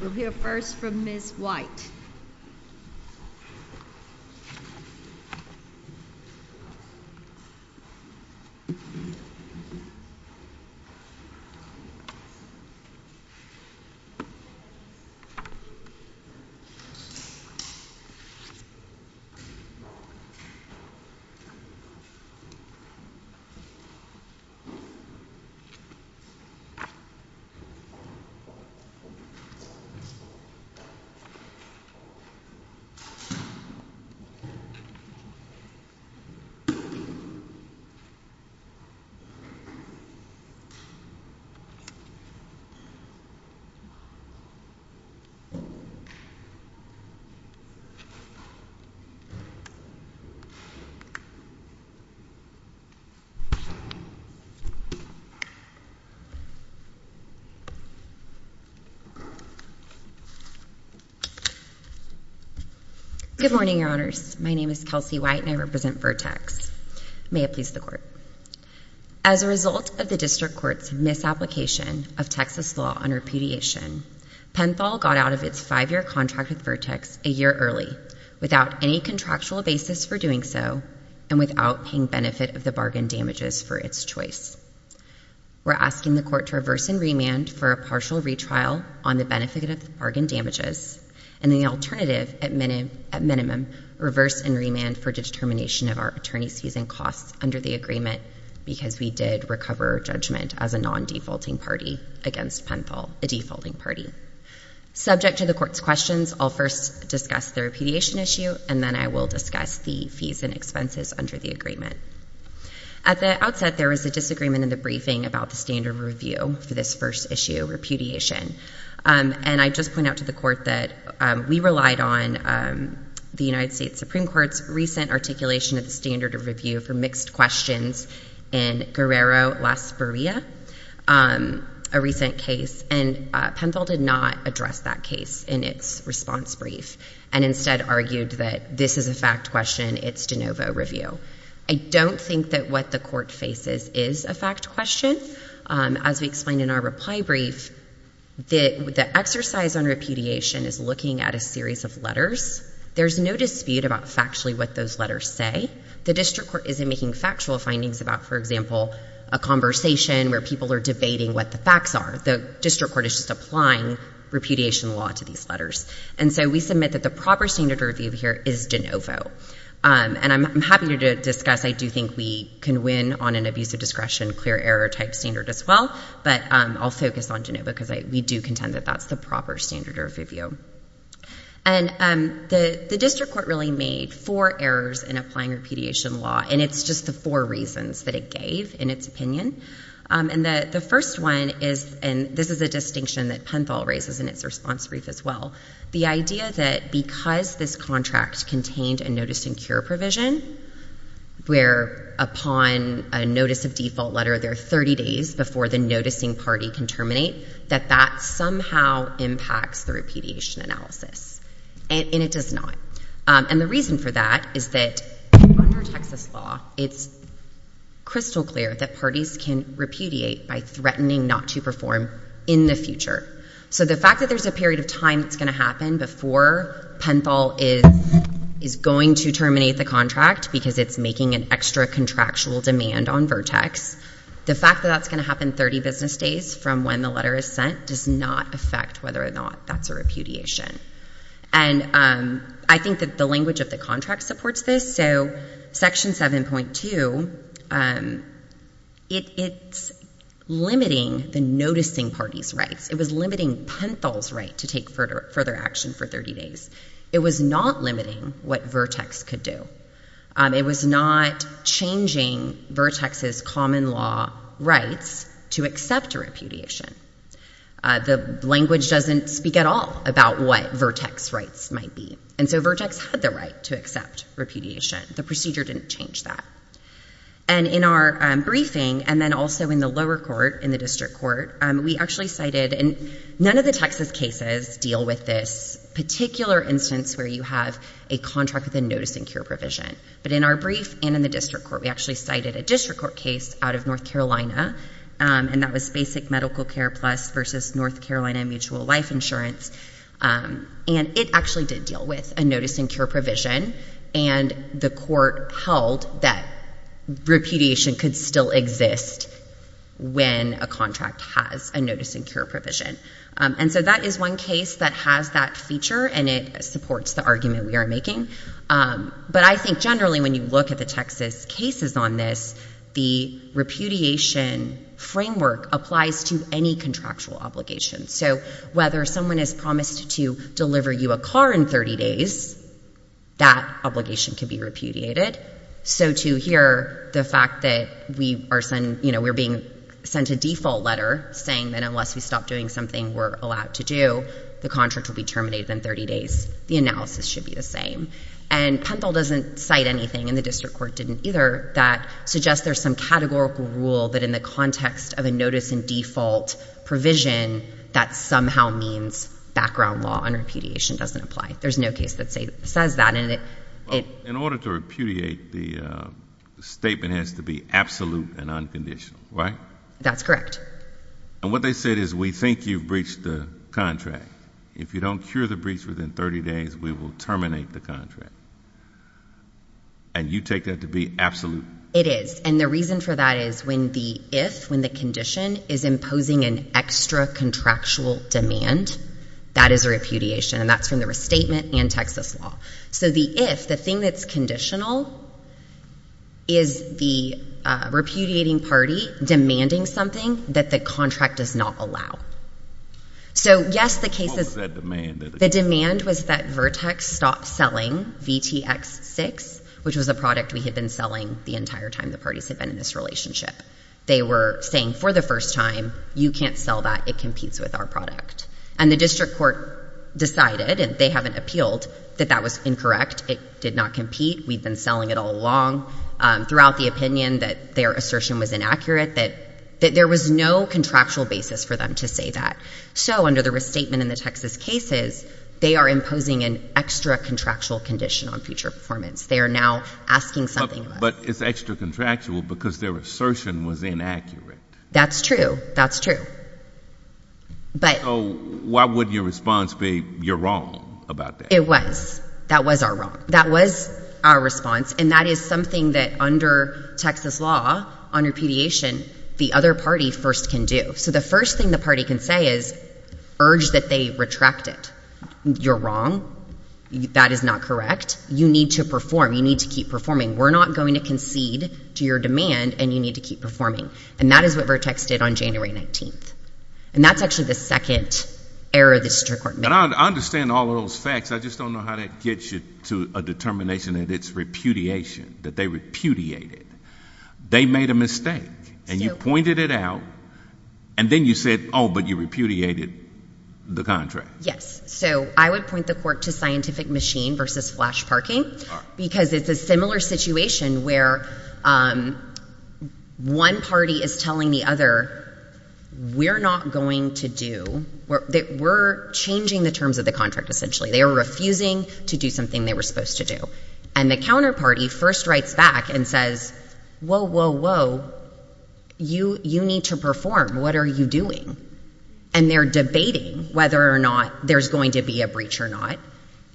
We'll hear first from Ms. White. Good morning, Your Honors. My name is Kelsey White and I represent Vertex. May it please the Court. As a result of the District Court's misapplication of Texas law on repudiation, Penthol got out of its five-year contract with Vertex a year early, without any contractual basis for doing so and without paying benefit of the bargain damages for its choice. We're asking the Court to reverse and remand for a partial retrial on the benefit of the bargain damages and the alternative, at minimum, reverse and remand for determination of our attorney's fees and costs under the agreement because we did recover judgment as a non-defaulting party against Penthol, a defaulting party. Subject to the Court's questions, I'll first discuss the repudiation issue and then I will discuss the fees and expenses under the agreement. At the outset, there was a disagreement in the briefing about the standard review for this first issue, repudiation, and I just point out to the Court that we relied on the United States Supreme Court's recent articulation of the standard review for mixed questions in Guerrero-Las Barrias, a recent case, and Penthol did not address that case in its response brief and instead argued that this is a fact question, it's de novo review. I don't think that what the Court faces is a fact question. As we explained in our reply brief, the exercise on repudiation is looking at a series of letters. There's no dispute about factually what those letters say. The District Court isn't making factual findings about, for example, a conversation where people are debating what the facts are. The District Court is just applying repudiation law to these letters. And so we submit that the proper standard review here is de novo. And I'm happy to discuss, I do think we can win on an abuse of discretion, clear error type standard as well, but I'll focus on de novo because we do contend that that's the proper standard review. And the District Court really made four errors in applying repudiation law and it's just the four reasons that it gave in its opinion. And the first one is, and this is a distinction that Penthall raises in its response brief as well, the idea that because this contract contained a notice and cure provision where upon a notice of default letter there are 30 days before the noticing party can terminate, that that somehow impacts the repudiation analysis. And it does not. And the reason for that is that under Texas law it's crystal clear that parties can repudiate by threatening not to perform in the future. So the fact that there's a period of time that's going to happen before Penthall is going to terminate the contract because it's making an extra contractual demand on Vertex, the fact that that's going to happen 30 business days from when the letter is sent does not affect whether or not that's a repudiation. And I think that the language of the contract supports this. So Section 7.2, it's limiting the noticing party's rights. It was limiting Penthall's right to take further action for 30 days. It was not limiting what Vertex could do. It was not changing Vertex's common law rights to accept a repudiation. The language doesn't speak at all about what Vertex's rights might be. And so Vertex had the right to accept repudiation. The procedure didn't change that. And in our briefing, and then also in the lower court, in the district court, we actually cited, and none of the Texas cases deal with this particular instance where you have a contract with a noticing cure provision. But in our brief and in the district court, we actually cited a district court case out of North Carolina, and that was Basic Medical Care Plus versus North Carolina Mutual Life Insurance. And it actually did deal with a noticing cure provision, and the court held that repudiation could still exist when a contract has a noticing cure provision. And so that is one case that has that feature, and it supports the argument we are making. But I think generally when you look at the Texas cases on this, the repudiation framework applies to any contractual obligation. So whether someone has promised to deliver you a car in 30 days, that obligation can be repudiated. So to hear the fact that we are being sent a default letter saying that unless we stop doing something we're allowed to do, the contract will be terminated in 30 days, the analysis should be the same. And Penfield doesn't cite anything, and the district court didn't either, that suggests there's some categorical rule that in the context of a notice and default provision, that somehow means background law and repudiation doesn't apply. There's no case that says that. In order to repudiate, the statement has to be absolute and unconditional, right? That's correct. And what they said is we think you've breached the contract. If you don't cure the breach within 30 days, we will terminate the contract. And you take that to be absolute? It is, and the reason for that is when the if, when the condition is imposing an extra contractual demand, that is a repudiation, and that's from the restatement and Texas law. So the if, the thing that's conditional, is the repudiating party demanding something that the contract does not allow. So, yes, the case is. What was that demand? The demand was that Vertex stop selling VTX6, which was a product we had been selling the entire time the parties had been in this relationship. They were saying for the first time, you can't sell that, it competes with our product. And the district court decided, and they haven't appealed, that that was incorrect. It did not compete. We've been selling it all along, throughout the opinion that their assertion was inaccurate, that there was no contractual basis for them to say that. So under the restatement in the Texas cases, they are imposing an extra contractual condition on future performance. They are now asking something of us. But it's extra contractual because their assertion was inaccurate. That's true. That's true. So why would your response be, you're wrong about that? It was. That was our wrong. That was our response, and that is something that under Texas law, on repudiation, the other party first can do. So the first thing the party can say is, urge that they retract it. You're wrong. That is not correct. You need to perform. You need to keep performing. We're not going to concede to your demand, and you need to keep performing. And that is what Vertex did on January 19th. And that's actually the second error the district court made. I understand all of those facts. I just don't know how that gets you to a determination that it's repudiation, that they repudiated. They made a mistake, and you pointed it out, and then you said, oh, but you repudiated the contract. Yes. So I would point the court to scientific machine versus flash parking because it's a similar situation where one party is telling the other, we're not going to do, we're changing the terms of the contract essentially. They are refusing to do something they were supposed to do. And the counterparty first writes back and says, whoa, whoa, whoa, you need to perform. What are you doing? And they're debating whether or not there's going to be a breach or not.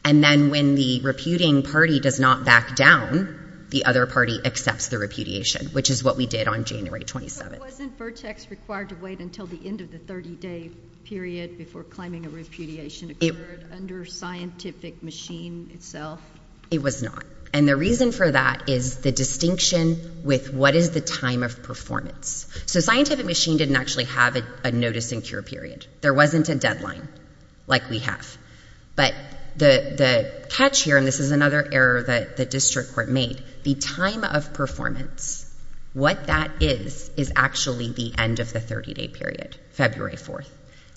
And then when the reputing party does not back down, the other party accepts the repudiation, which is what we did on January 27th. But wasn't Vertex required to wait until the end of the 30-day period before claiming a repudiation occurred under scientific machine itself? It was not. And the reason for that is the distinction with what is the time of performance. So scientific machine didn't actually have a notice and cure period. There wasn't a deadline like we have. But the catch here, and this is another error that the district court made, the time of performance, what that is, is actually the end of the 30-day period, February 4th.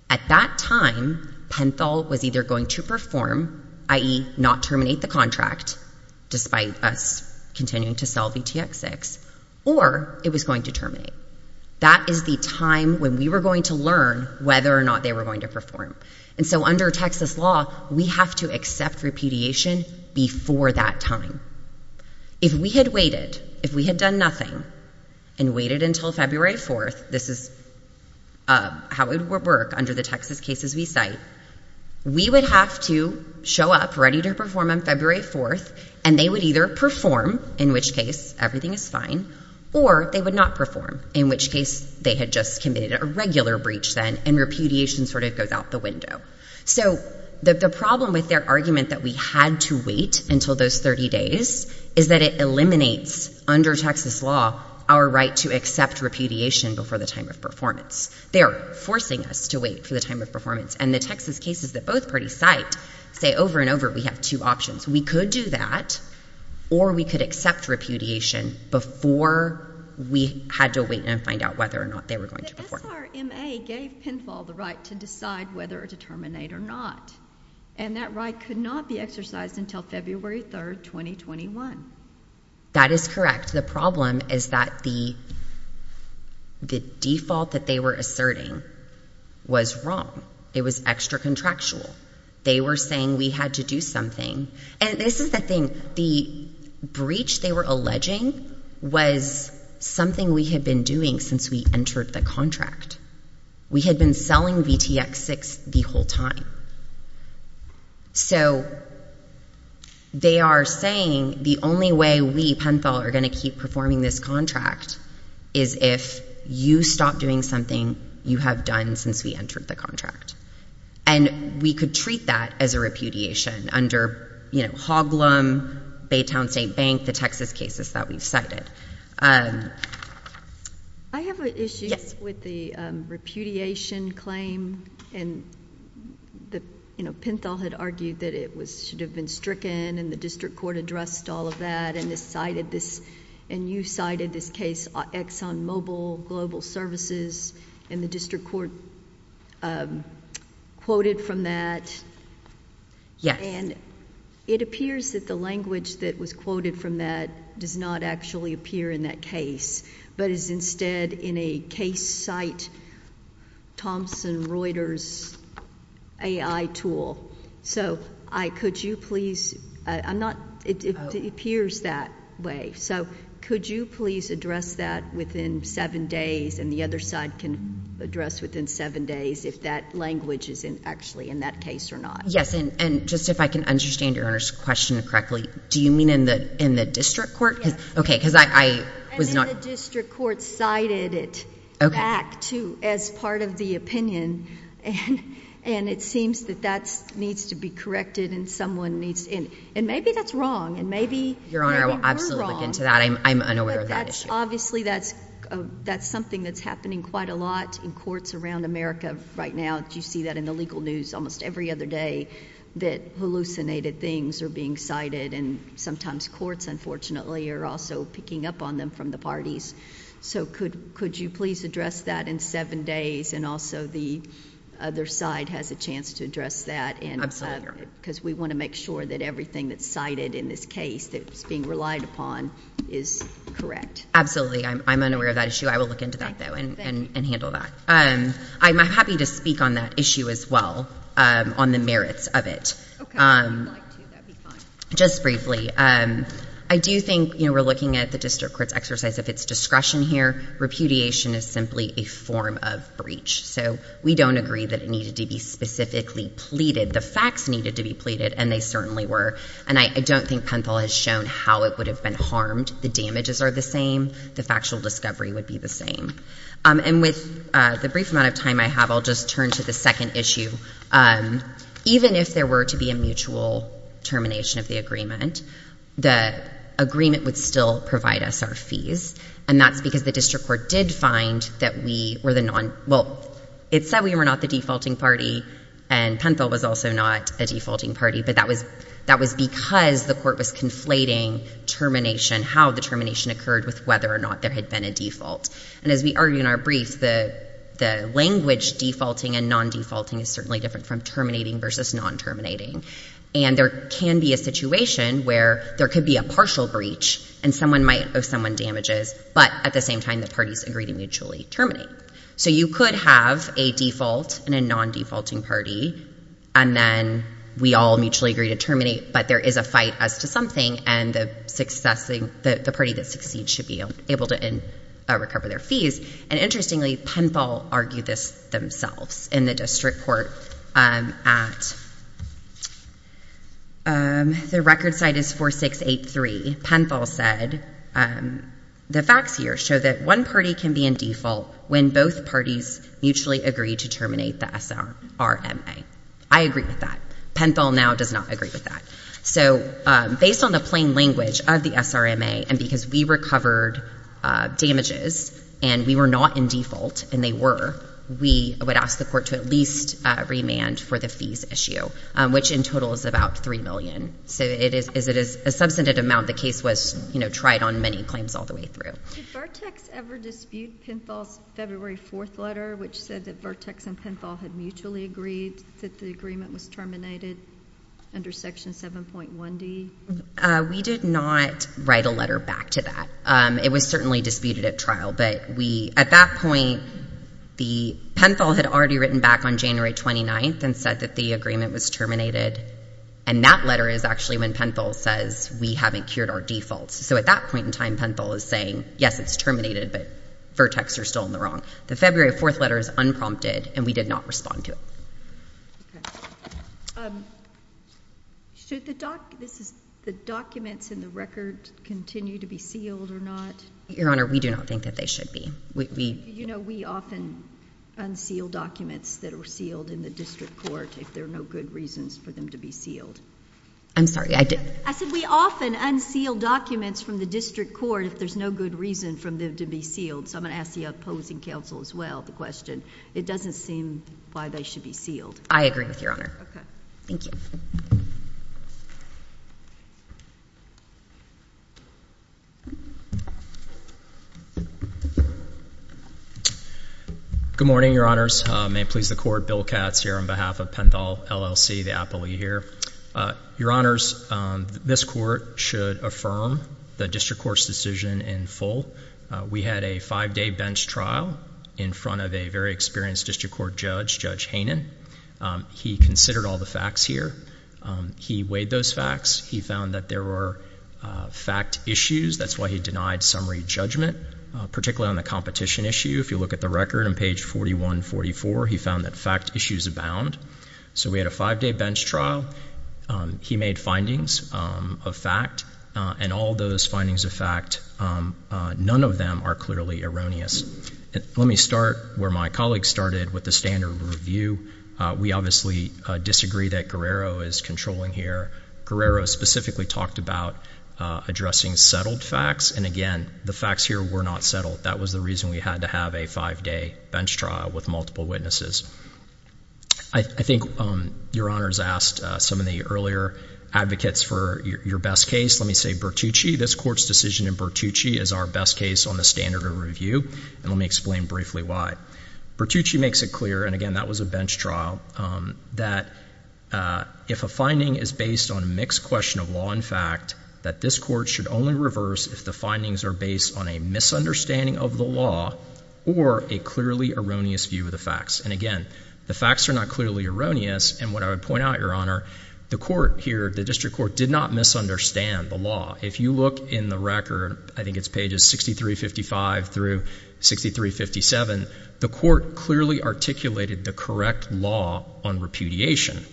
At that time, Penthal was either going to perform, i.e., not terminate the contract, despite us continuing to sell VTX6, or it was going to terminate. That is the time when we were going to learn whether or not they were going to perform. And so under Texas law, we have to accept repudiation before that time. If we had waited, if we had done nothing, and waited until February 4th, this is how it would work under the Texas cases we cite, we would have to show up ready to perform on February 4th, and they would either perform, in which case everything is fine, or they would not perform, in which case they had just committed a regular breach then, and repudiation sort of goes out the window. So the problem with their argument that we had to wait until those 30 days is that it eliminates, under Texas law, our right to accept repudiation before the time of performance. They are forcing us to wait for the time of performance. And the Texas cases that both parties cite say over and over, we have two options. We could do that, or we could accept repudiation before we had to wait and find out whether or not they were going to perform. The SRMA gave PINFAL the right to decide whether to terminate or not, and that right could not be exercised until February 3rd, 2021. That is correct. The problem is that the default that they were asserting was wrong. It was extra-contractual. They were saying we had to do something. And this is the thing. The breach they were alleging was something we had been doing since we entered the contract. We had been selling VTX-6 the whole time. So they are saying the only way we, PINFAL, are going to keep performing this contract is if you stop doing something you have done since we entered the contract. And we could treat that as a repudiation under, you know, Hoglum, Baytown State Bank, the Texas cases that we have cited. I have an issue with the repudiation claim. And, you know, PINFAL had argued that it should have been stricken, and the district court addressed all of that, and you cited this case, ExxonMobil Global Services, and the district court quoted from that. Yes. And it appears that the language that was quoted from that does not actually appear in that case, but is instead in a case site, Thomson Reuters AI tool. So could you please... I'm not... it appears that way. So could you please address that within seven days, and the other side can address within seven days if that language is actually in that case or not? Yes. And just if I can understand Your Honor's question correctly, do you mean in the district court? Yes. Okay, because I was not... And then the district court cited it... Okay.... back to as part of the opinion, and it seems that that needs to be corrected, and someone needs to... and maybe that's wrong, and maybe... Your Honor, I will absolutely look into that. I'm unaware of that issue. But that's... obviously that's something that's happening quite a lot in courts around America right now. You see that in the legal news almost every other day that hallucinated things are being cited, and sometimes courts, unfortunately, are also picking up on them from the parties. So could you please address that in seven days, and also the other side has a chance to address that... Absolutely. Because we want to make sure that everything that's cited in this case that's being relied upon is correct. Absolutely. I'm unaware of that issue. I will look into that, though, and handle that. I'm happy to speak on that issue as well, on the merits of it. Okay. I would like to. That would be fine. Just briefly, I do think, you know, we're looking at the district court's exercise of its discretion here. Repudiation is simply a form of breach, so we don't agree that it needed to be specifically pleaded. The facts needed to be pleaded, and they certainly were, and I don't think Penthill has shown how it would have been harmed. The damages are the same. The factual discovery would be the same. And with the brief amount of time I have, I'll just turn to the second issue. Even if there were to be a mutual termination of the agreement, the agreement would still provide us our fees, and that's because the district court did find that we were the non—well, it said we were not the defaulting party, and Penthill was also not a defaulting party, but that was because the court was conflating termination, how the termination occurred with whether or not there had been a default. And as we argue in our brief, the language defaulting and non-defaulting is certainly different from terminating versus non-terminating. And there can be a situation where there could be a partial breach, and someone might owe someone damages, but at the same time the parties agree to mutually terminate. So you could have a default and a non-defaulting party, and then we all mutually agree to terminate, but there is a fight as to something, and the party that succeeds should be able to recover their fees. And interestingly, Penthill argued this themselves in the district court at—the record site is 4683. Penthill said, the facts here show that one party can be in default when both parties mutually agree to terminate the SRMA. I agree with that. Penthill now does not agree with that. So based on the plain language of the SRMA, and because we recovered damages, and we were not in default, and they were, we would ask the court to at least remand for the fees issue, which in total is about $3 million. So it is a substantive amount. The case was tried on many claims all the way through. Did Vertex ever dispute Penthill's February 4th letter, which said that Vertex and Penthill had mutually agreed that the agreement was terminated under Section 7.1D? We did not write a letter back to that. It was certainly disputed at trial, but we—at that point, Penthill had already written back on January 29th and said that the agreement was terminated, and that letter is actually when Penthill says, we haven't cured our defaults. So at that point in time, Penthill is saying, yes, it's terminated, but Vertex are still in the wrong. The February 4th letter is unprompted, and we did not respond to it. Okay. Should the documents in the record continue to be sealed or not? Your Honor, we do not think that they should be. We— You know, we often unseal documents that are sealed in the district court if there are no good reasons for them to be sealed. I'm sorry, I didn't— I said we often unseal documents from the district court if there's no good reason for them to be sealed. So I'm going to ask the opposing counsel as well the question. It doesn't seem why they should be sealed. I agree with Your Honor. Okay. Thank you. Good morning, Your Honors. May it please the Court, Bill Katz here on behalf of Penthill LLC, the appellee here. Your Honors, this Court should affirm the district court's decision in full. We had a five-day bench trial in front of a very experienced district court judge, Judge Hanen. He considered all the facts here. He weighed those facts. He found that there were fact issues. That's why he denied summary judgment, particularly on the competition issue. If you look at the record on page 4144, he found that fact issues abound. So we had a five-day bench trial. He made findings of fact. And all those findings of fact, none of them are clearly erroneous. Let me start where my colleague started with the standard review. We obviously disagree that Guerrero is controlling here. Guerrero specifically talked about addressing settled facts. And again, the facts here were not settled. That was the reason we had to have a five-day bench trial with multiple witnesses. I think Your Honors asked some of the earlier advocates for your best case. Let me say Bertucci. This Court's decision in Bertucci is our best case on the standard review. And let me explain briefly why. Bertucci makes it clear, and again, that was a bench trial, that if a finding is based on a mixed question of law and fact, that this Court should only reverse if the findings are based on a misunderstanding of the law or a clearly erroneous view of the facts. And again, the facts are not clearly erroneous. And what I would point out, Your Honor, the court here, the district court, did not misunderstand the law. If you look in the record, I think it's pages 6355 through 6357, the court clearly articulated the correct law on repudiation.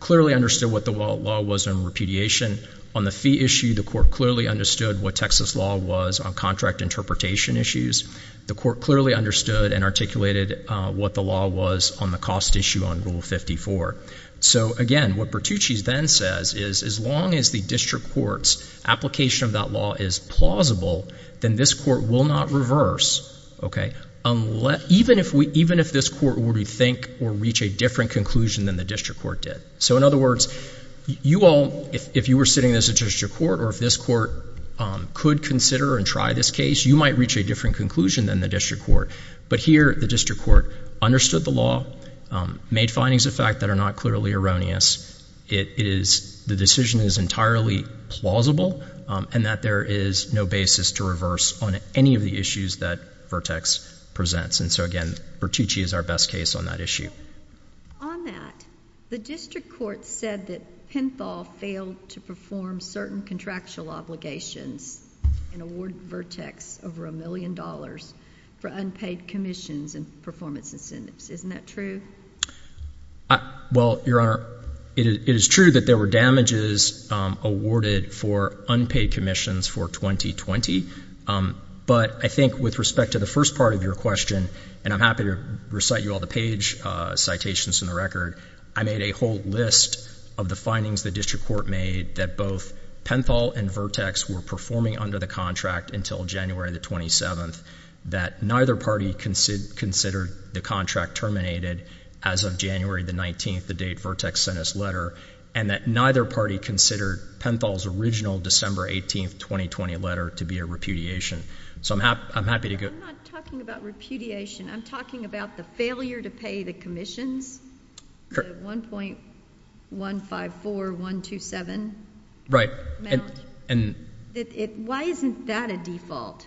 Clearly understood what the law was on repudiation. On the fee issue, the court clearly understood what Texas law was on contract interpretation issues. The court clearly understood and articulated what the law was on the cost issue on Rule 54. So again, what Bertucci then says is as long as the district court's application of that law is plausible, then this court will not reverse, okay, even if this court were to think or reach a different conclusion than the district court did. So in other words, you all, if you were sitting in this district court, or if this court could consider and try this case, you might reach a different conclusion than the district court. But here, the district court understood the law, made findings of fact that are not clearly erroneous. The decision is entirely plausible and that there is no basis to reverse on any of the issues that Vertex presents. And so again, Bertucci is our best case on that issue. On that, the district court said that Penthall failed to perform certain contractual obligations and awarded Vertex over a million dollars for unpaid commissions and performance incentives. Isn't that true? Well, Your Honor, it is true that there were damages awarded for unpaid commissions for 2020. But I think with respect to the first part of your question, and I'm happy to recite you all the page citations in the record, I made a whole list of the findings the district court made, that both Penthall and Vertex were performing under the contract until January the 27th, that neither party considered the contract terminated as of January the 19th, the date Vertex sent us a letter, and that neither party considered Penthall's original December 18th, 2020 letter to be a repudiation. So I'm happy to go. I'm not talking about repudiation. I'm talking about the failure to pay the commissions, the 1.154127 amount. Right. Why isn't that a default?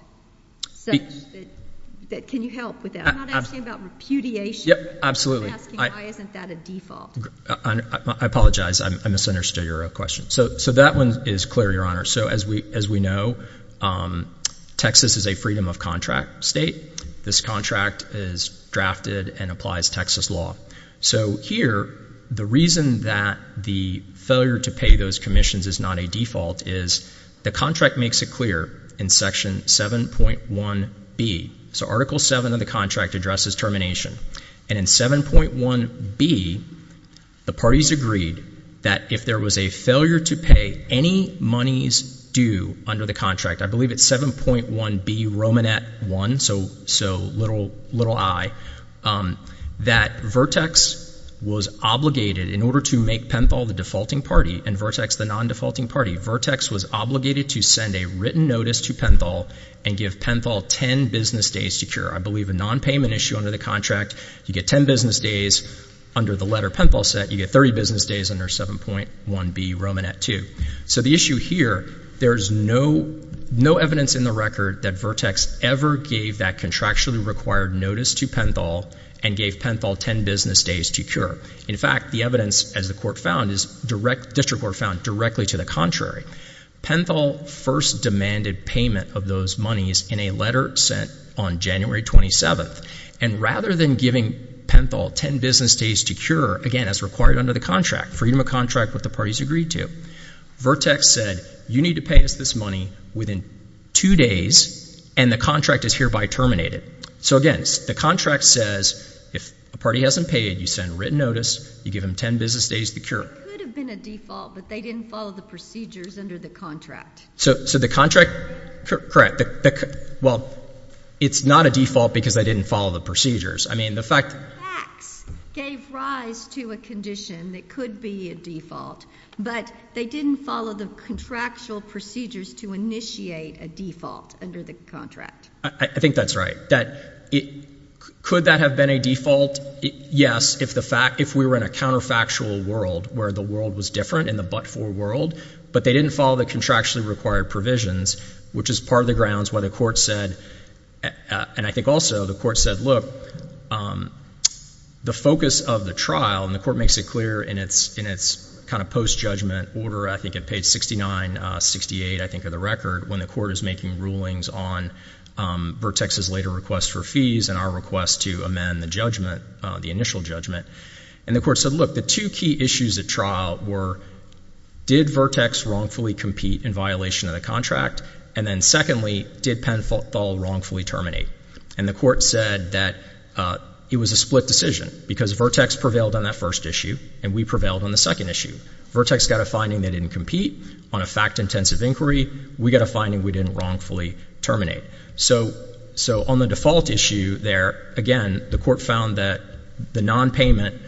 Can you help with that? I'm not asking about repudiation. Absolutely. I'm asking why isn't that a default. I apologize. I misunderstood your question. So that one is clear, Your Honor. So as we know, Texas is a freedom of contract state. This contract is drafted and applies Texas law. So here, the reason that the failure to pay those commissions is not a default is the contract makes it clear in Section 7.1B. So Article 7 of the contract addresses termination. And in 7.1B, the parties agreed that if there was a failure to pay any monies due under the contract, I believe it's 7.1B Romanet 1, so little i, that Vertex was obligated in order to make Penthall the defaulting party and Vertex the non-defaulting party, Vertex was obligated to send a written notice to Penthall and give Penthall ten business days to cure. I believe a non-payment issue under the contract, you get ten business days under the letter Penthall sent, you get 30 business days under 7.1B Romanet 2. So the issue here, there's no evidence in the record that Vertex ever gave that contractually required notice to Penthall and gave Penthall ten business days to cure. In fact, the evidence, as the District Court found, is directly to the contrary. Penthall first demanded payment of those monies in a letter sent on January 27th. And rather than giving Penthall ten business days to cure, again, as required under the contract, freedom of contract what the parties agreed to, Vertex said you need to pay us this money within two days and the contract is hereby terminated. So again, the contract says if a party hasn't paid, you send a written notice, you give them ten business days to cure. It could have been a default, but they didn't follow the procedures under the contract. So the contract? Correct. Well, it's not a default because they didn't follow the procedures. I mean, the fact— Facts gave rise to a condition that could be a default, but they didn't follow the contractual procedures to initiate a default under the contract. I think that's right. Could that have been a default? Yes, if we were in a counterfactual world where the world was different in the but-for world, but they didn't follow the contractually required provisions, which is part of the grounds why the court said, and I think also the court said, look, the focus of the trial, and the court makes it clear in its kind of post-judgment order, I think at page 69, 68, I think, of the record, when the court is making rulings on Vertex's later request for fees and our request to amend the judgment, the initial judgment. And the court said, look, the two key issues at trial were, did Vertex wrongfully compete in violation of the contract? And then secondly, did Penthall wrongfully terminate? And the court said that it was a split decision because Vertex prevailed on that first issue and we prevailed on the second issue. Vertex got a finding they didn't compete on a fact-intensive inquiry. We got a finding we didn't wrongfully terminate. So on the default issue there, again, the court found that the nonpayment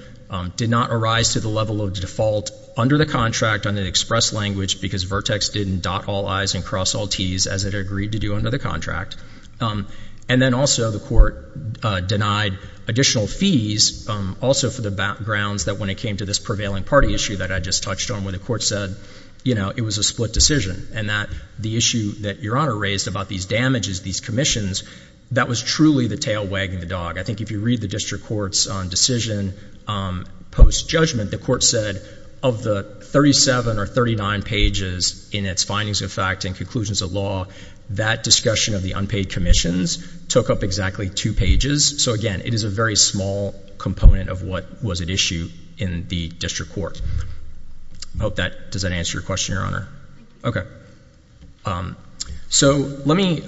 did not arise to the level of default under the contract under the express language because Vertex didn't dot all I's and cross all T's, as it agreed to do under the contract. And then also the court denied additional fees also for the grounds that when it came to this prevailing party issue that I just touched on where the court said, you know, it was a split decision, and that the issue that Your Honor raised about these damages, these commissions, that was truly the tail wagging the dog. I think if you read the district court's decision post-judgment, the court said of the 37 or 39 pages in its findings of fact and conclusions of law, that discussion of the unpaid commissions took up exactly two pages. So, again, it is a very small component of what was at issue in the district court. I hope that does not answer your question, Your Honor. Okay. So let me,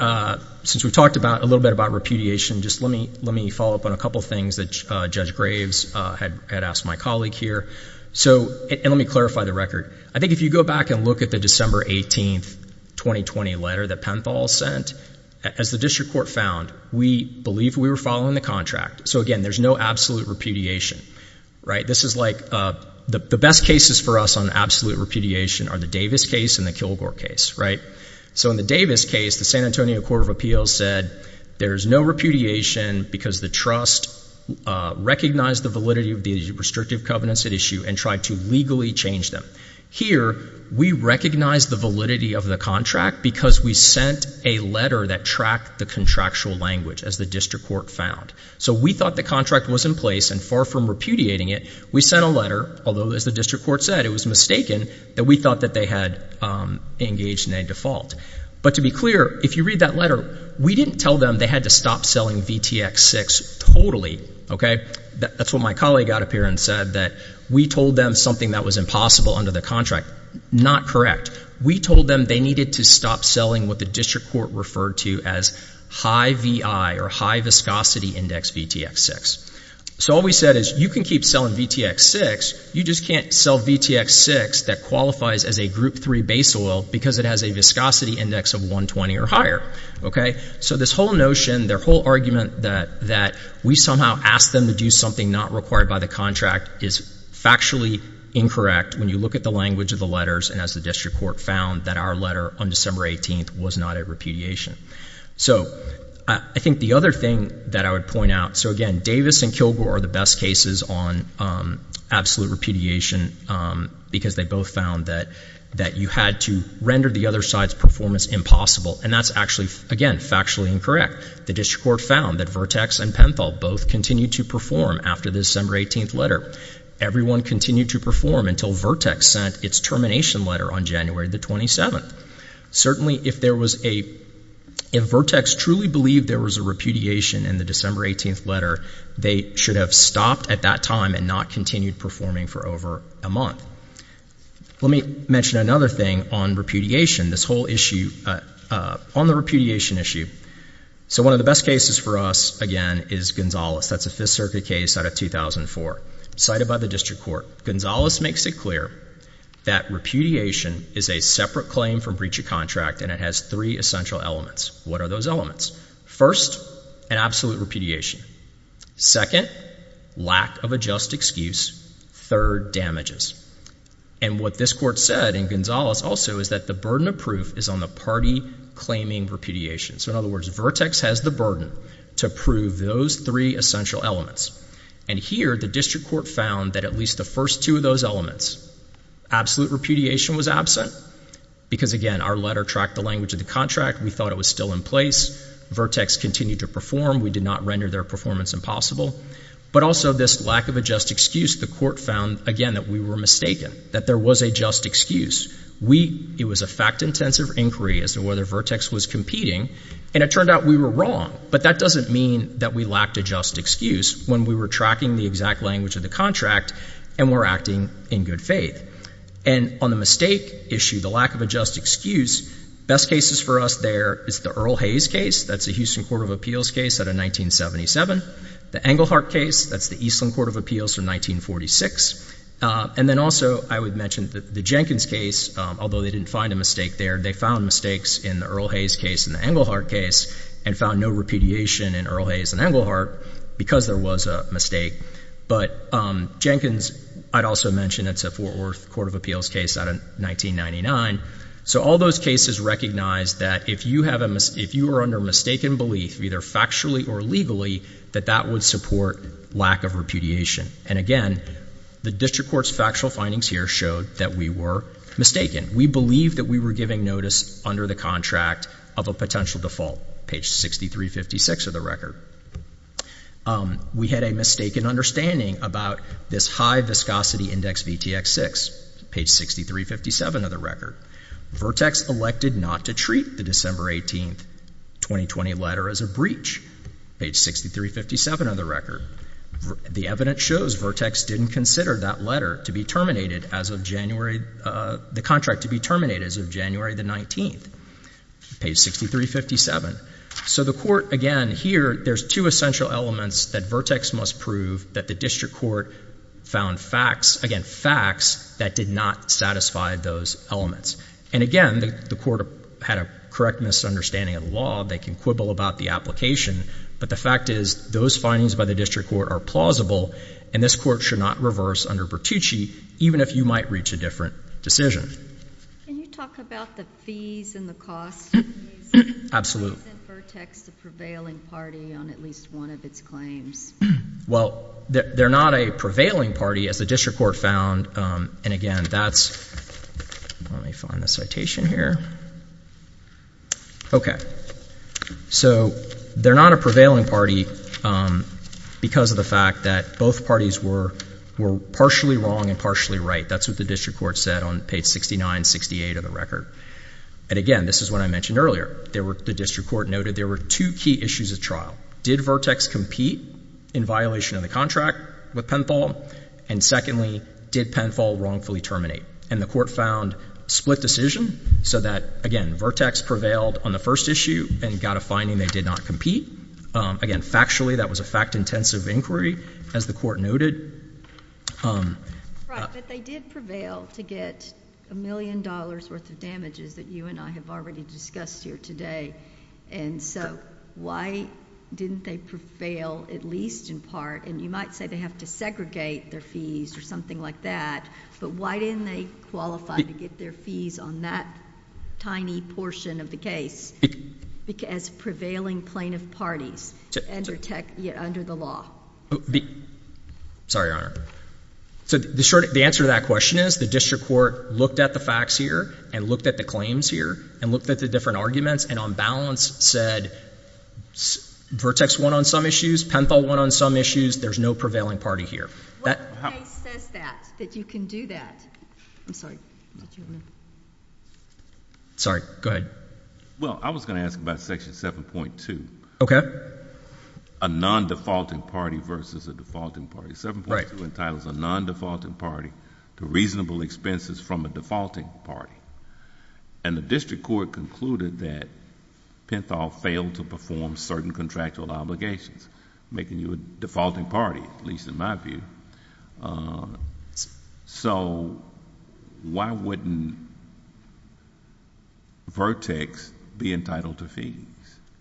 since we've talked a little bit about repudiation, just let me follow up on a couple of things that Judge Graves had asked my colleague here. So, and let me clarify the record. I think if you go back and look at the December 18, 2020 letter that Penthal sent, as the district court found, we believe we were following the contract. So, again, there's no absolute repudiation, right? This is like the best cases for us on absolute repudiation are the Davis case and the Kilgore case, right? So in the Davis case, the San Antonio Court of Appeals said there's no repudiation because the trust recognized the validity of the restrictive covenants at issue and tried to legally change them. Here, we recognize the validity of the contract because we sent a letter that tracked the contractual language, as the district court found. So we thought the contract was in place, and far from repudiating it, we sent a letter, although, as the district court said, it was mistaken, that we thought that they had engaged in a default. But to be clear, if you read that letter, we didn't tell them they had to stop selling VTX-6 totally. Okay? That's what my colleague got up here and said, that we told them something that was impossible under the contract. Not correct. We told them they needed to stop selling what the district court referred to as high VI or high viscosity index VTX-6. So all we said is, you can keep selling VTX-6, you just can't sell VTX-6 that qualifies as a Group 3 base oil because it has a viscosity index of 120 or higher. Okay? So this whole notion, their whole argument that we somehow asked them to do something not required by the contract is factually incorrect when you look at the language of the letters and as the district court found that our letter on December 18th was not a repudiation. So I think the other thing that I would point out, so again, Davis and Kilgore are the best cases on absolute repudiation because they both found that you had to render the other side's performance impossible, and that's actually, again, factually incorrect. The district court found that VTX and Penthal both continued to perform after the December 18th letter. Everyone continued to perform until VTX sent its termination letter on January the 27th. Certainly, if VTX truly believed there was a repudiation in the December 18th letter, they should have stopped at that time and not continued performing for over a month. Let me mention another thing on repudiation. This whole issue on the repudiation issue. So one of the best cases for us, again, is Gonzalez. That's a Fifth Circuit case out of 2004 cited by the district court. Gonzalez makes it clear that repudiation is a separate claim from breach of contract, and it has three essential elements. What are those elements? First, an absolute repudiation. Second, lack of a just excuse. Third, damages. And what this court said in Gonzalez also is that the burden of proof is on the party claiming repudiation. So, in other words, VTX has the burden to prove those three essential elements. And here, the district court found that at least the first two of those elements, absolute repudiation was absent, because, again, our letter tracked the language of the contract. We thought it was still in place. VTX continued to perform. We did not render their performance impossible. But also, this lack of a just excuse, the court found, again, that we were mistaken, that there was a just excuse. It was a fact-intensive inquiry as to whether VTX was competing, and it turned out we were wrong. But that doesn't mean that we lacked a just excuse when we were tracking the exact language of the contract and were acting in good faith. And on the mistake issue, the lack of a just excuse, best cases for us there is the Earl Hayes case. That's a Houston Court of Appeals case out of 1977. The Englehart case, that's the Eastland Court of Appeals from 1946. And then also, I would mention the Jenkins case, although they didn't find a mistake there. They found mistakes in the Earl Hayes case and the Englehart case and found no repudiation in Earl Hayes and Englehart because there was a mistake. But Jenkins, I'd also mention it's a Fort Worth Court of Appeals case out of 1999. So all those cases recognize that if you are under mistaken belief, either factually or legally, that that would support lack of repudiation. And again, the district court's factual findings here showed that we were mistaken. We believed that we were giving notice under the contract of a potential default, page 6356 of the record. We had a mistaken understanding about this high viscosity index VTX-6, page 6357 of the record. Vertex elected not to treat the December 18, 2020 letter as a breach, page 6357 of the record. The evidence shows Vertex didn't consider that letter to be terminated as of January, the contract to be terminated as of January the 19th, page 6357. So the court, again, here, there's two essential elements that Vertex must prove that the district court found facts, again, facts that did not satisfy those elements. And again, the court had a correct misunderstanding of the law. They can quibble about the application. But the fact is those findings by the district court are plausible, and this court should not reverse under Bertucci even if you might reach a different decision. Can you talk about the fees and the cost? Absolutely. Why isn't Vertex the prevailing party on at least one of its claims? Well, they're not a prevailing party, as the district court found. And again, that's, let me find the citation here. Okay. So they're not a prevailing party because of the fact that both parties were partially wrong and partially right. That's what the district court said on page 6968 of the record. And again, this is what I mentioned earlier. The district court noted there were two key issues at trial. Did Vertex compete in violation of the contract with Penthol? And secondly, did Penthol wrongfully terminate? And the court found split decision so that, again, Vertex prevailed on the first issue and got a finding they did not compete. Again, factually, that was a fact-intensive inquiry, as the court noted. Right, but they did prevail to get a million dollars worth of damages that you and I have already discussed here today. And so why didn't they prevail at least in part? And you might say they have to segregate their fees or something like that. But why didn't they qualify to get their fees on that tiny portion of the case as prevailing plaintiff parties under the law? Sorry, Your Honor. So the answer to that question is the district court looked at the facts here and looked at the claims here and looked at the different arguments and on balance said Vertex won on some issues, Penthol won on some issues. There's no prevailing party here. What case says that, that you can do that? I'm sorry. Sorry, go ahead. Well, I was going to ask about Section 7.2. Okay. A non-defaulting party versus a defaulting party. 7.2 entitles a non-defaulting party to reasonable expenses from a defaulting party. And the district court concluded that Penthol failed to perform certain contractual obligations, making you a defaulting party, at least in my view. So why wouldn't Vertex be entitled to fees?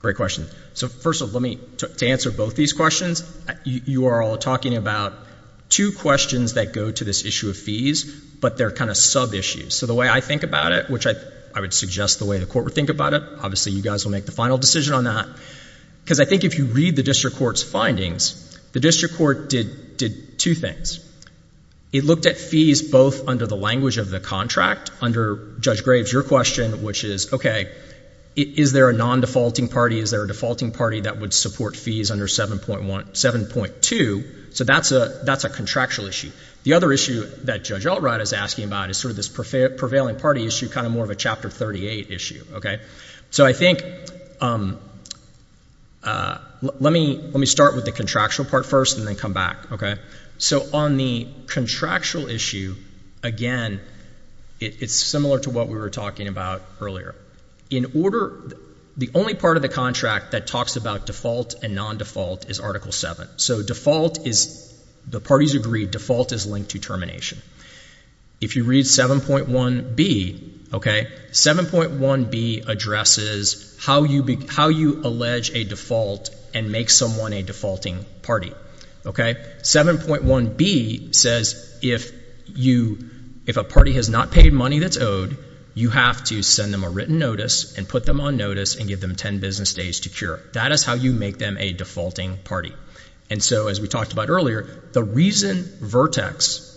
Great question. So first of all, to answer both these questions, you are all talking about two questions that go to this issue of fees, but they're kind of sub-issues. So the way I think about it, which I would suggest the way the court would think about it, obviously you guys will make the final decision on that, because I think if you read the district court's findings, the district court did two things. It looked at fees both under the language of the contract, under Judge Graves' question, which is, okay, is there a non-defaulting party? Is there a defaulting party that would support fees under 7.2? So that's a contractual issue. The other issue that Judge Altright is asking about is sort of this prevailing party issue, kind of more of a Chapter 38 issue. So I think let me start with the contractual part first and then come back. So on the contractual issue, again, it's similar to what we were talking about earlier. The only part of the contract that talks about default and non-default is Article 7. So the parties agree default is linked to termination. If you read 7.1b, 7.1b addresses how you allege a default and make someone a defaulting party. 7.1b says if a party has not paid money that's owed, you have to send them a written notice and put them on notice and give them 10 business days to cure. That is how you make them a defaulting party. And so as we talked about earlier, the reason Vertex,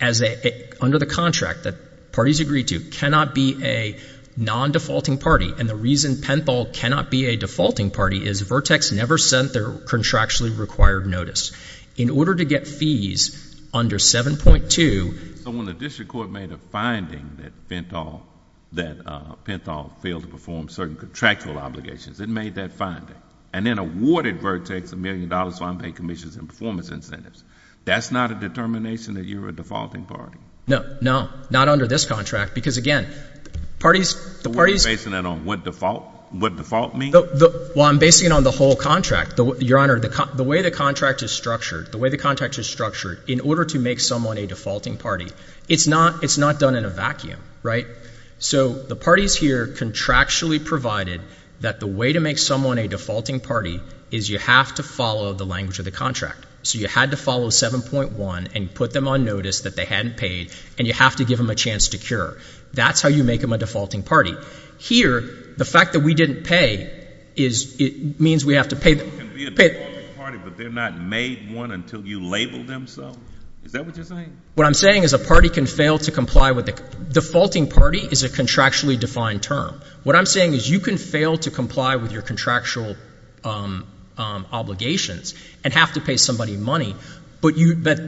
under the contract that parties agree to, cannot be a non-defaulting party and the reason Penthal cannot be a defaulting party is Vertex never sent their contractually required notice. In order to get fees under 7.2. So when the district court made a finding that Penthal failed to perform certain contractual obligations, it made that finding and then awarded Vertex a million dollars to unpaid commissions and performance incentives. That's not a determination that you're a defaulting party? No, not under this contract because, again, the parties. So we're basing that on what default means? Well, I'm basing it on the whole contract, Your Honor. The way the contract is structured in order to make someone a defaulting party, it's not done in a vacuum, right? So the parties here contractually provided that the way to make someone a defaulting party is you have to follow the language of the contract. So you had to follow 7.1 and put them on notice that they hadn't paid and you have to give them a chance to cure. That's how you make them a defaulting party. Here, the fact that we didn't pay means we have to pay them. You can be a defaulting party, but they're not made one until you label them so? Is that what you're saying? What I'm saying is a party can fail to comply with the defaulting party is a contractually defined term. What I'm saying is you can fail to comply with your contractual obligations and have to pay somebody money, but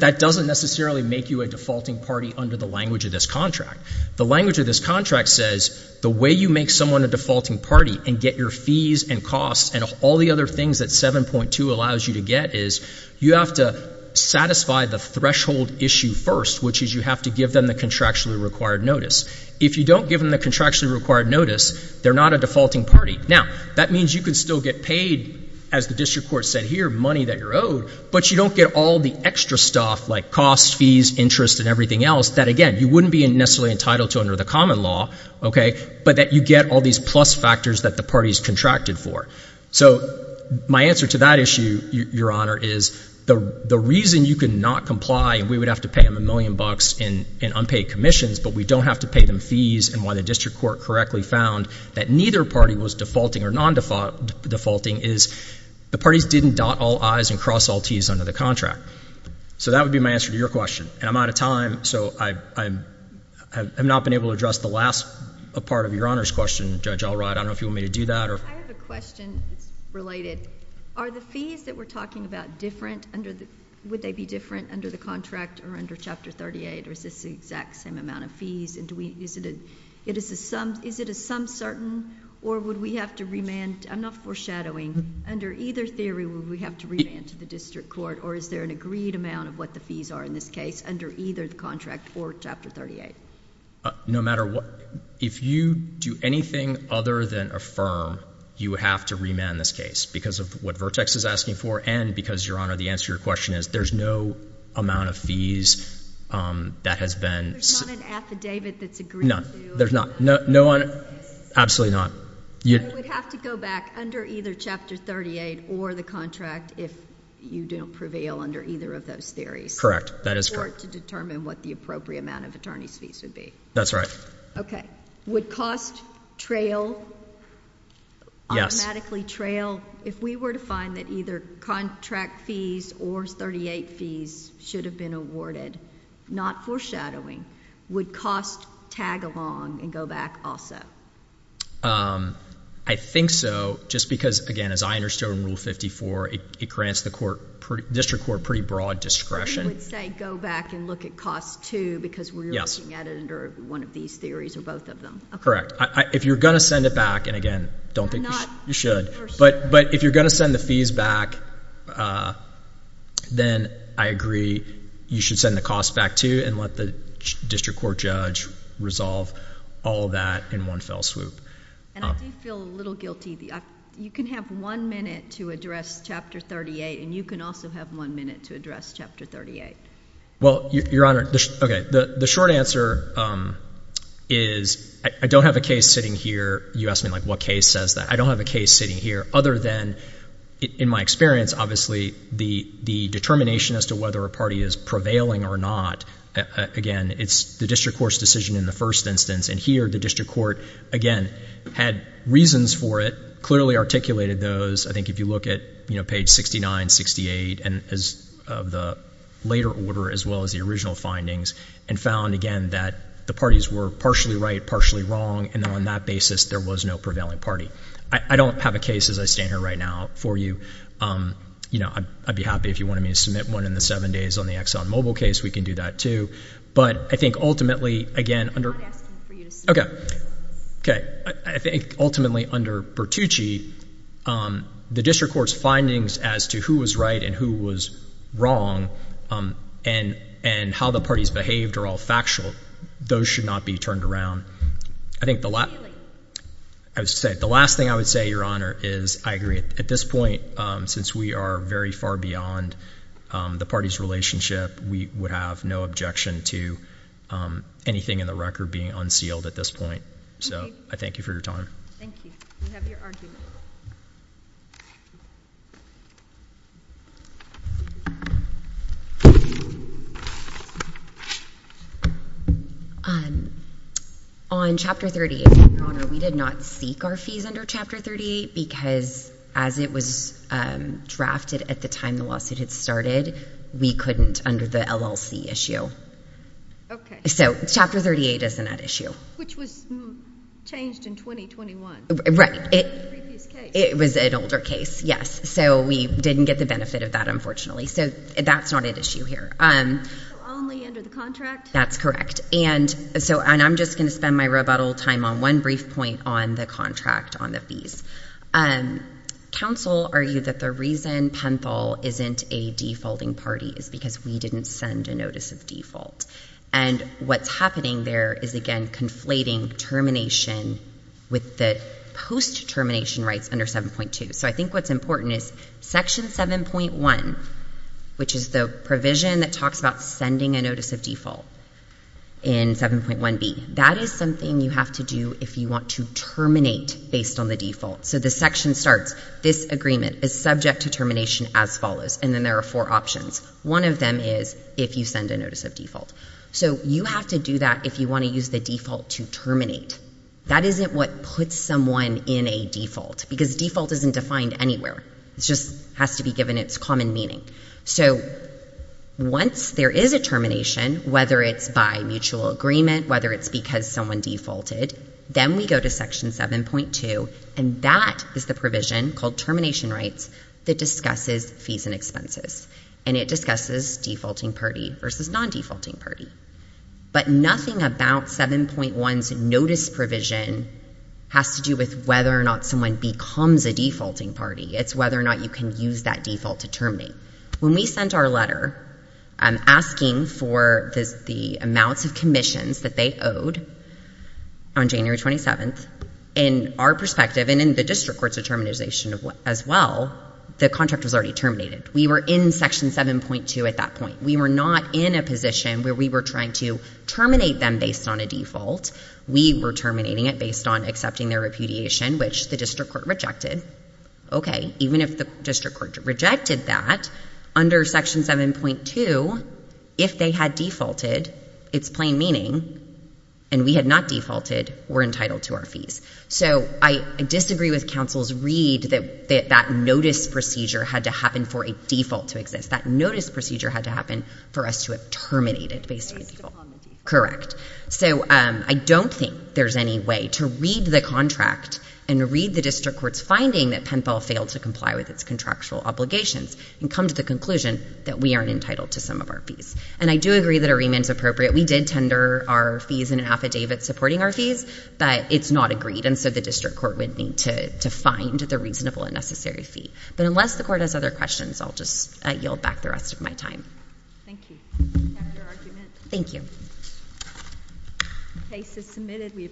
that doesn't necessarily make you a defaulting party under the language of this contract. The language of this contract says the way you make someone a defaulting party and get your fees and costs and all the other things that 7.2 allows you to get is you have to satisfy the threshold issue first, which is you have to give them the contractually required notice. If you don't give them the contractually required notice, they're not a defaulting party. Now, that means you can still get paid, as the district court said here, money that you're owed, but you don't get all the extra stuff like costs, fees, interest, and everything else that, again, you wouldn't be necessarily entitled to under the common law, okay, but that you get all these plus factors that the parties contracted for. So my answer to that issue, Your Honor, is the reason you can not comply and we would have to pay them a million bucks in unpaid commissions, but we don't have to pay them fees and why the district court correctly found that neither party was defaulting or non-defaulting is the parties didn't dot all I's and cross all T's under the contract. So that would be my answer to your question. And I'm out of time, so I have not been able to address the last part of Your Honor's question. Judge Allright, I don't know if you want me to do that. I have a question that's related. Are the fees that we're talking about different under the – would they be different under the contract or under Chapter 38 or is this the exact same amount of fees and is it a some certain or would we have to remand – I'm not foreshadowing. Under either theory, would we have to remand to the district court or is there an agreed amount of what the fees are in this case under either the contract or Chapter 38? No matter what – if you do anything other than affirm, you have to remand this case because of what Vertex is asking for and because, Your Honor, the answer to your question is there's no amount of fees that has been – There's not an affidavit that's agreed to? No, there's not. No – absolutely not. You would have to go back under either Chapter 38 or the contract if you don't prevail under either of those theories. Correct. That is correct. Or to determine what the appropriate amount of attorney's fees would be. That's right. Okay. Would cost trail? Yes. Automatically trail? If we were to find that either contract fees or 38 fees should have been awarded, not foreshadowing, would cost tag along and go back also? I think so just because, again, as I understood from Rule 54, it grants the district court pretty broad discretion. You would say go back and look at cost too because we're looking at it under one of these theories or both of them. Correct. If you're going to send it back, and again, don't think you should, but if you're going to send the fees back, then I agree you should send the cost back too and let the district court judge resolve all of that in one fell swoop. And I do feel a little guilty. You can have one minute to address Chapter 38, and you can also have one minute to address Chapter 38. Well, Your Honor, the short answer is I don't have a case sitting here. You asked me what case says that. I don't have a case sitting here other than, in my experience, obviously the determination as to whether a party is prevailing or not. Again, it's the district court's decision in the first instance, and here the district court, again, had reasons for it, clearly articulated those. I think if you look at page 69, 68 of the later order as well as the original findings and found, again, that the parties were partially right, partially wrong, and then on that basis there was no prevailing party. I don't have a case as I stand here right now for you. You know, I'd be happy if you wanted me to submit one in the seven days on the ExxonMobil case. We can do that too. But I think ultimately, again, under – I'm not asking for you to submit one. Okay. I think ultimately under Bertucci, the district court's findings as to who was right and who was wrong and how the parties behaved are all factual. Those should not be turned around. I think the last thing I would say, Your Honor, is I agree. At this point, since we are very far beyond the party's relationship, we would have no objection to anything in the record being unsealed at this point. So I thank you for your time. Thank you. We have your argument. On Chapter 38, Your Honor, we did not seek our fees under Chapter 38 because as it was drafted at the time the lawsuit had started, we couldn't under the LLC issue. Okay. So Chapter 38 isn't at issue. Which was changed in 2021. Right. Previous case. It was an older case, yes. So we didn't get the benefit of that, unfortunately. So that's not at issue here. So only under the contract? That's correct. And I'm just going to spend my rebuttal time on one brief point on the contract, on the fees. Counsel argued that the reason Penthal isn't a defaulting party is because we didn't send a notice of default. And what's happening there is, again, conflating termination with the post-termination rights under 7.2. So I think what's important is Section 7.1, which is the provision that talks about sending a notice of default in 7.1b, that is something you have to do if you want to terminate based on the default. So the section starts, this agreement is subject to termination as follows, and then there are four options. One of them is if you send a notice of default. So you have to do that if you want to use the default to terminate. That isn't what puts someone in a default. Because default isn't defined anywhere. It just has to be given its common meaning. So once there is a termination, whether it's by mutual agreement, whether it's because someone defaulted, then we go to Section 7.2, and that is the provision called termination rights that discusses fees and expenses. And it discusses defaulting party versus non-defaulting party. But nothing about 7.1's notice provision has to do with whether or not someone becomes a defaulting party. It's whether or not you can use that default to terminate. When we sent our letter asking for the amounts of commissions that they owed on January 27th, in our perspective, and in the district court's determination as well, the contract was already terminated. We were in Section 7.2 at that point. We were not in a position where we were trying to terminate them based on a default. We were terminating it based on accepting their repudiation, which the district court rejected. Okay, even if the district court rejected that, under Section 7.2, if they had defaulted, its plain meaning, and we had not defaulted, we're entitled to our fees. So I disagree with counsel's read that that notice procedure had to happen for a default to exist. That notice procedure had to happen for us to have terminated based on default. Based upon the default. Correct. So I don't think there's any way to read the contract and read the district court's finding that Penfall failed to comply with its contractual obligations and come to the conclusion that we aren't entitled to some of our fees. And I do agree that a remand is appropriate. We did tender our fees in an affidavit supporting our fees, but it's not agreed, and so the district court would need to find the reasonable and necessary fee. But unless the court has other questions, I'll just yield back the rest of my time. Thank you. We have your argument. Thank you.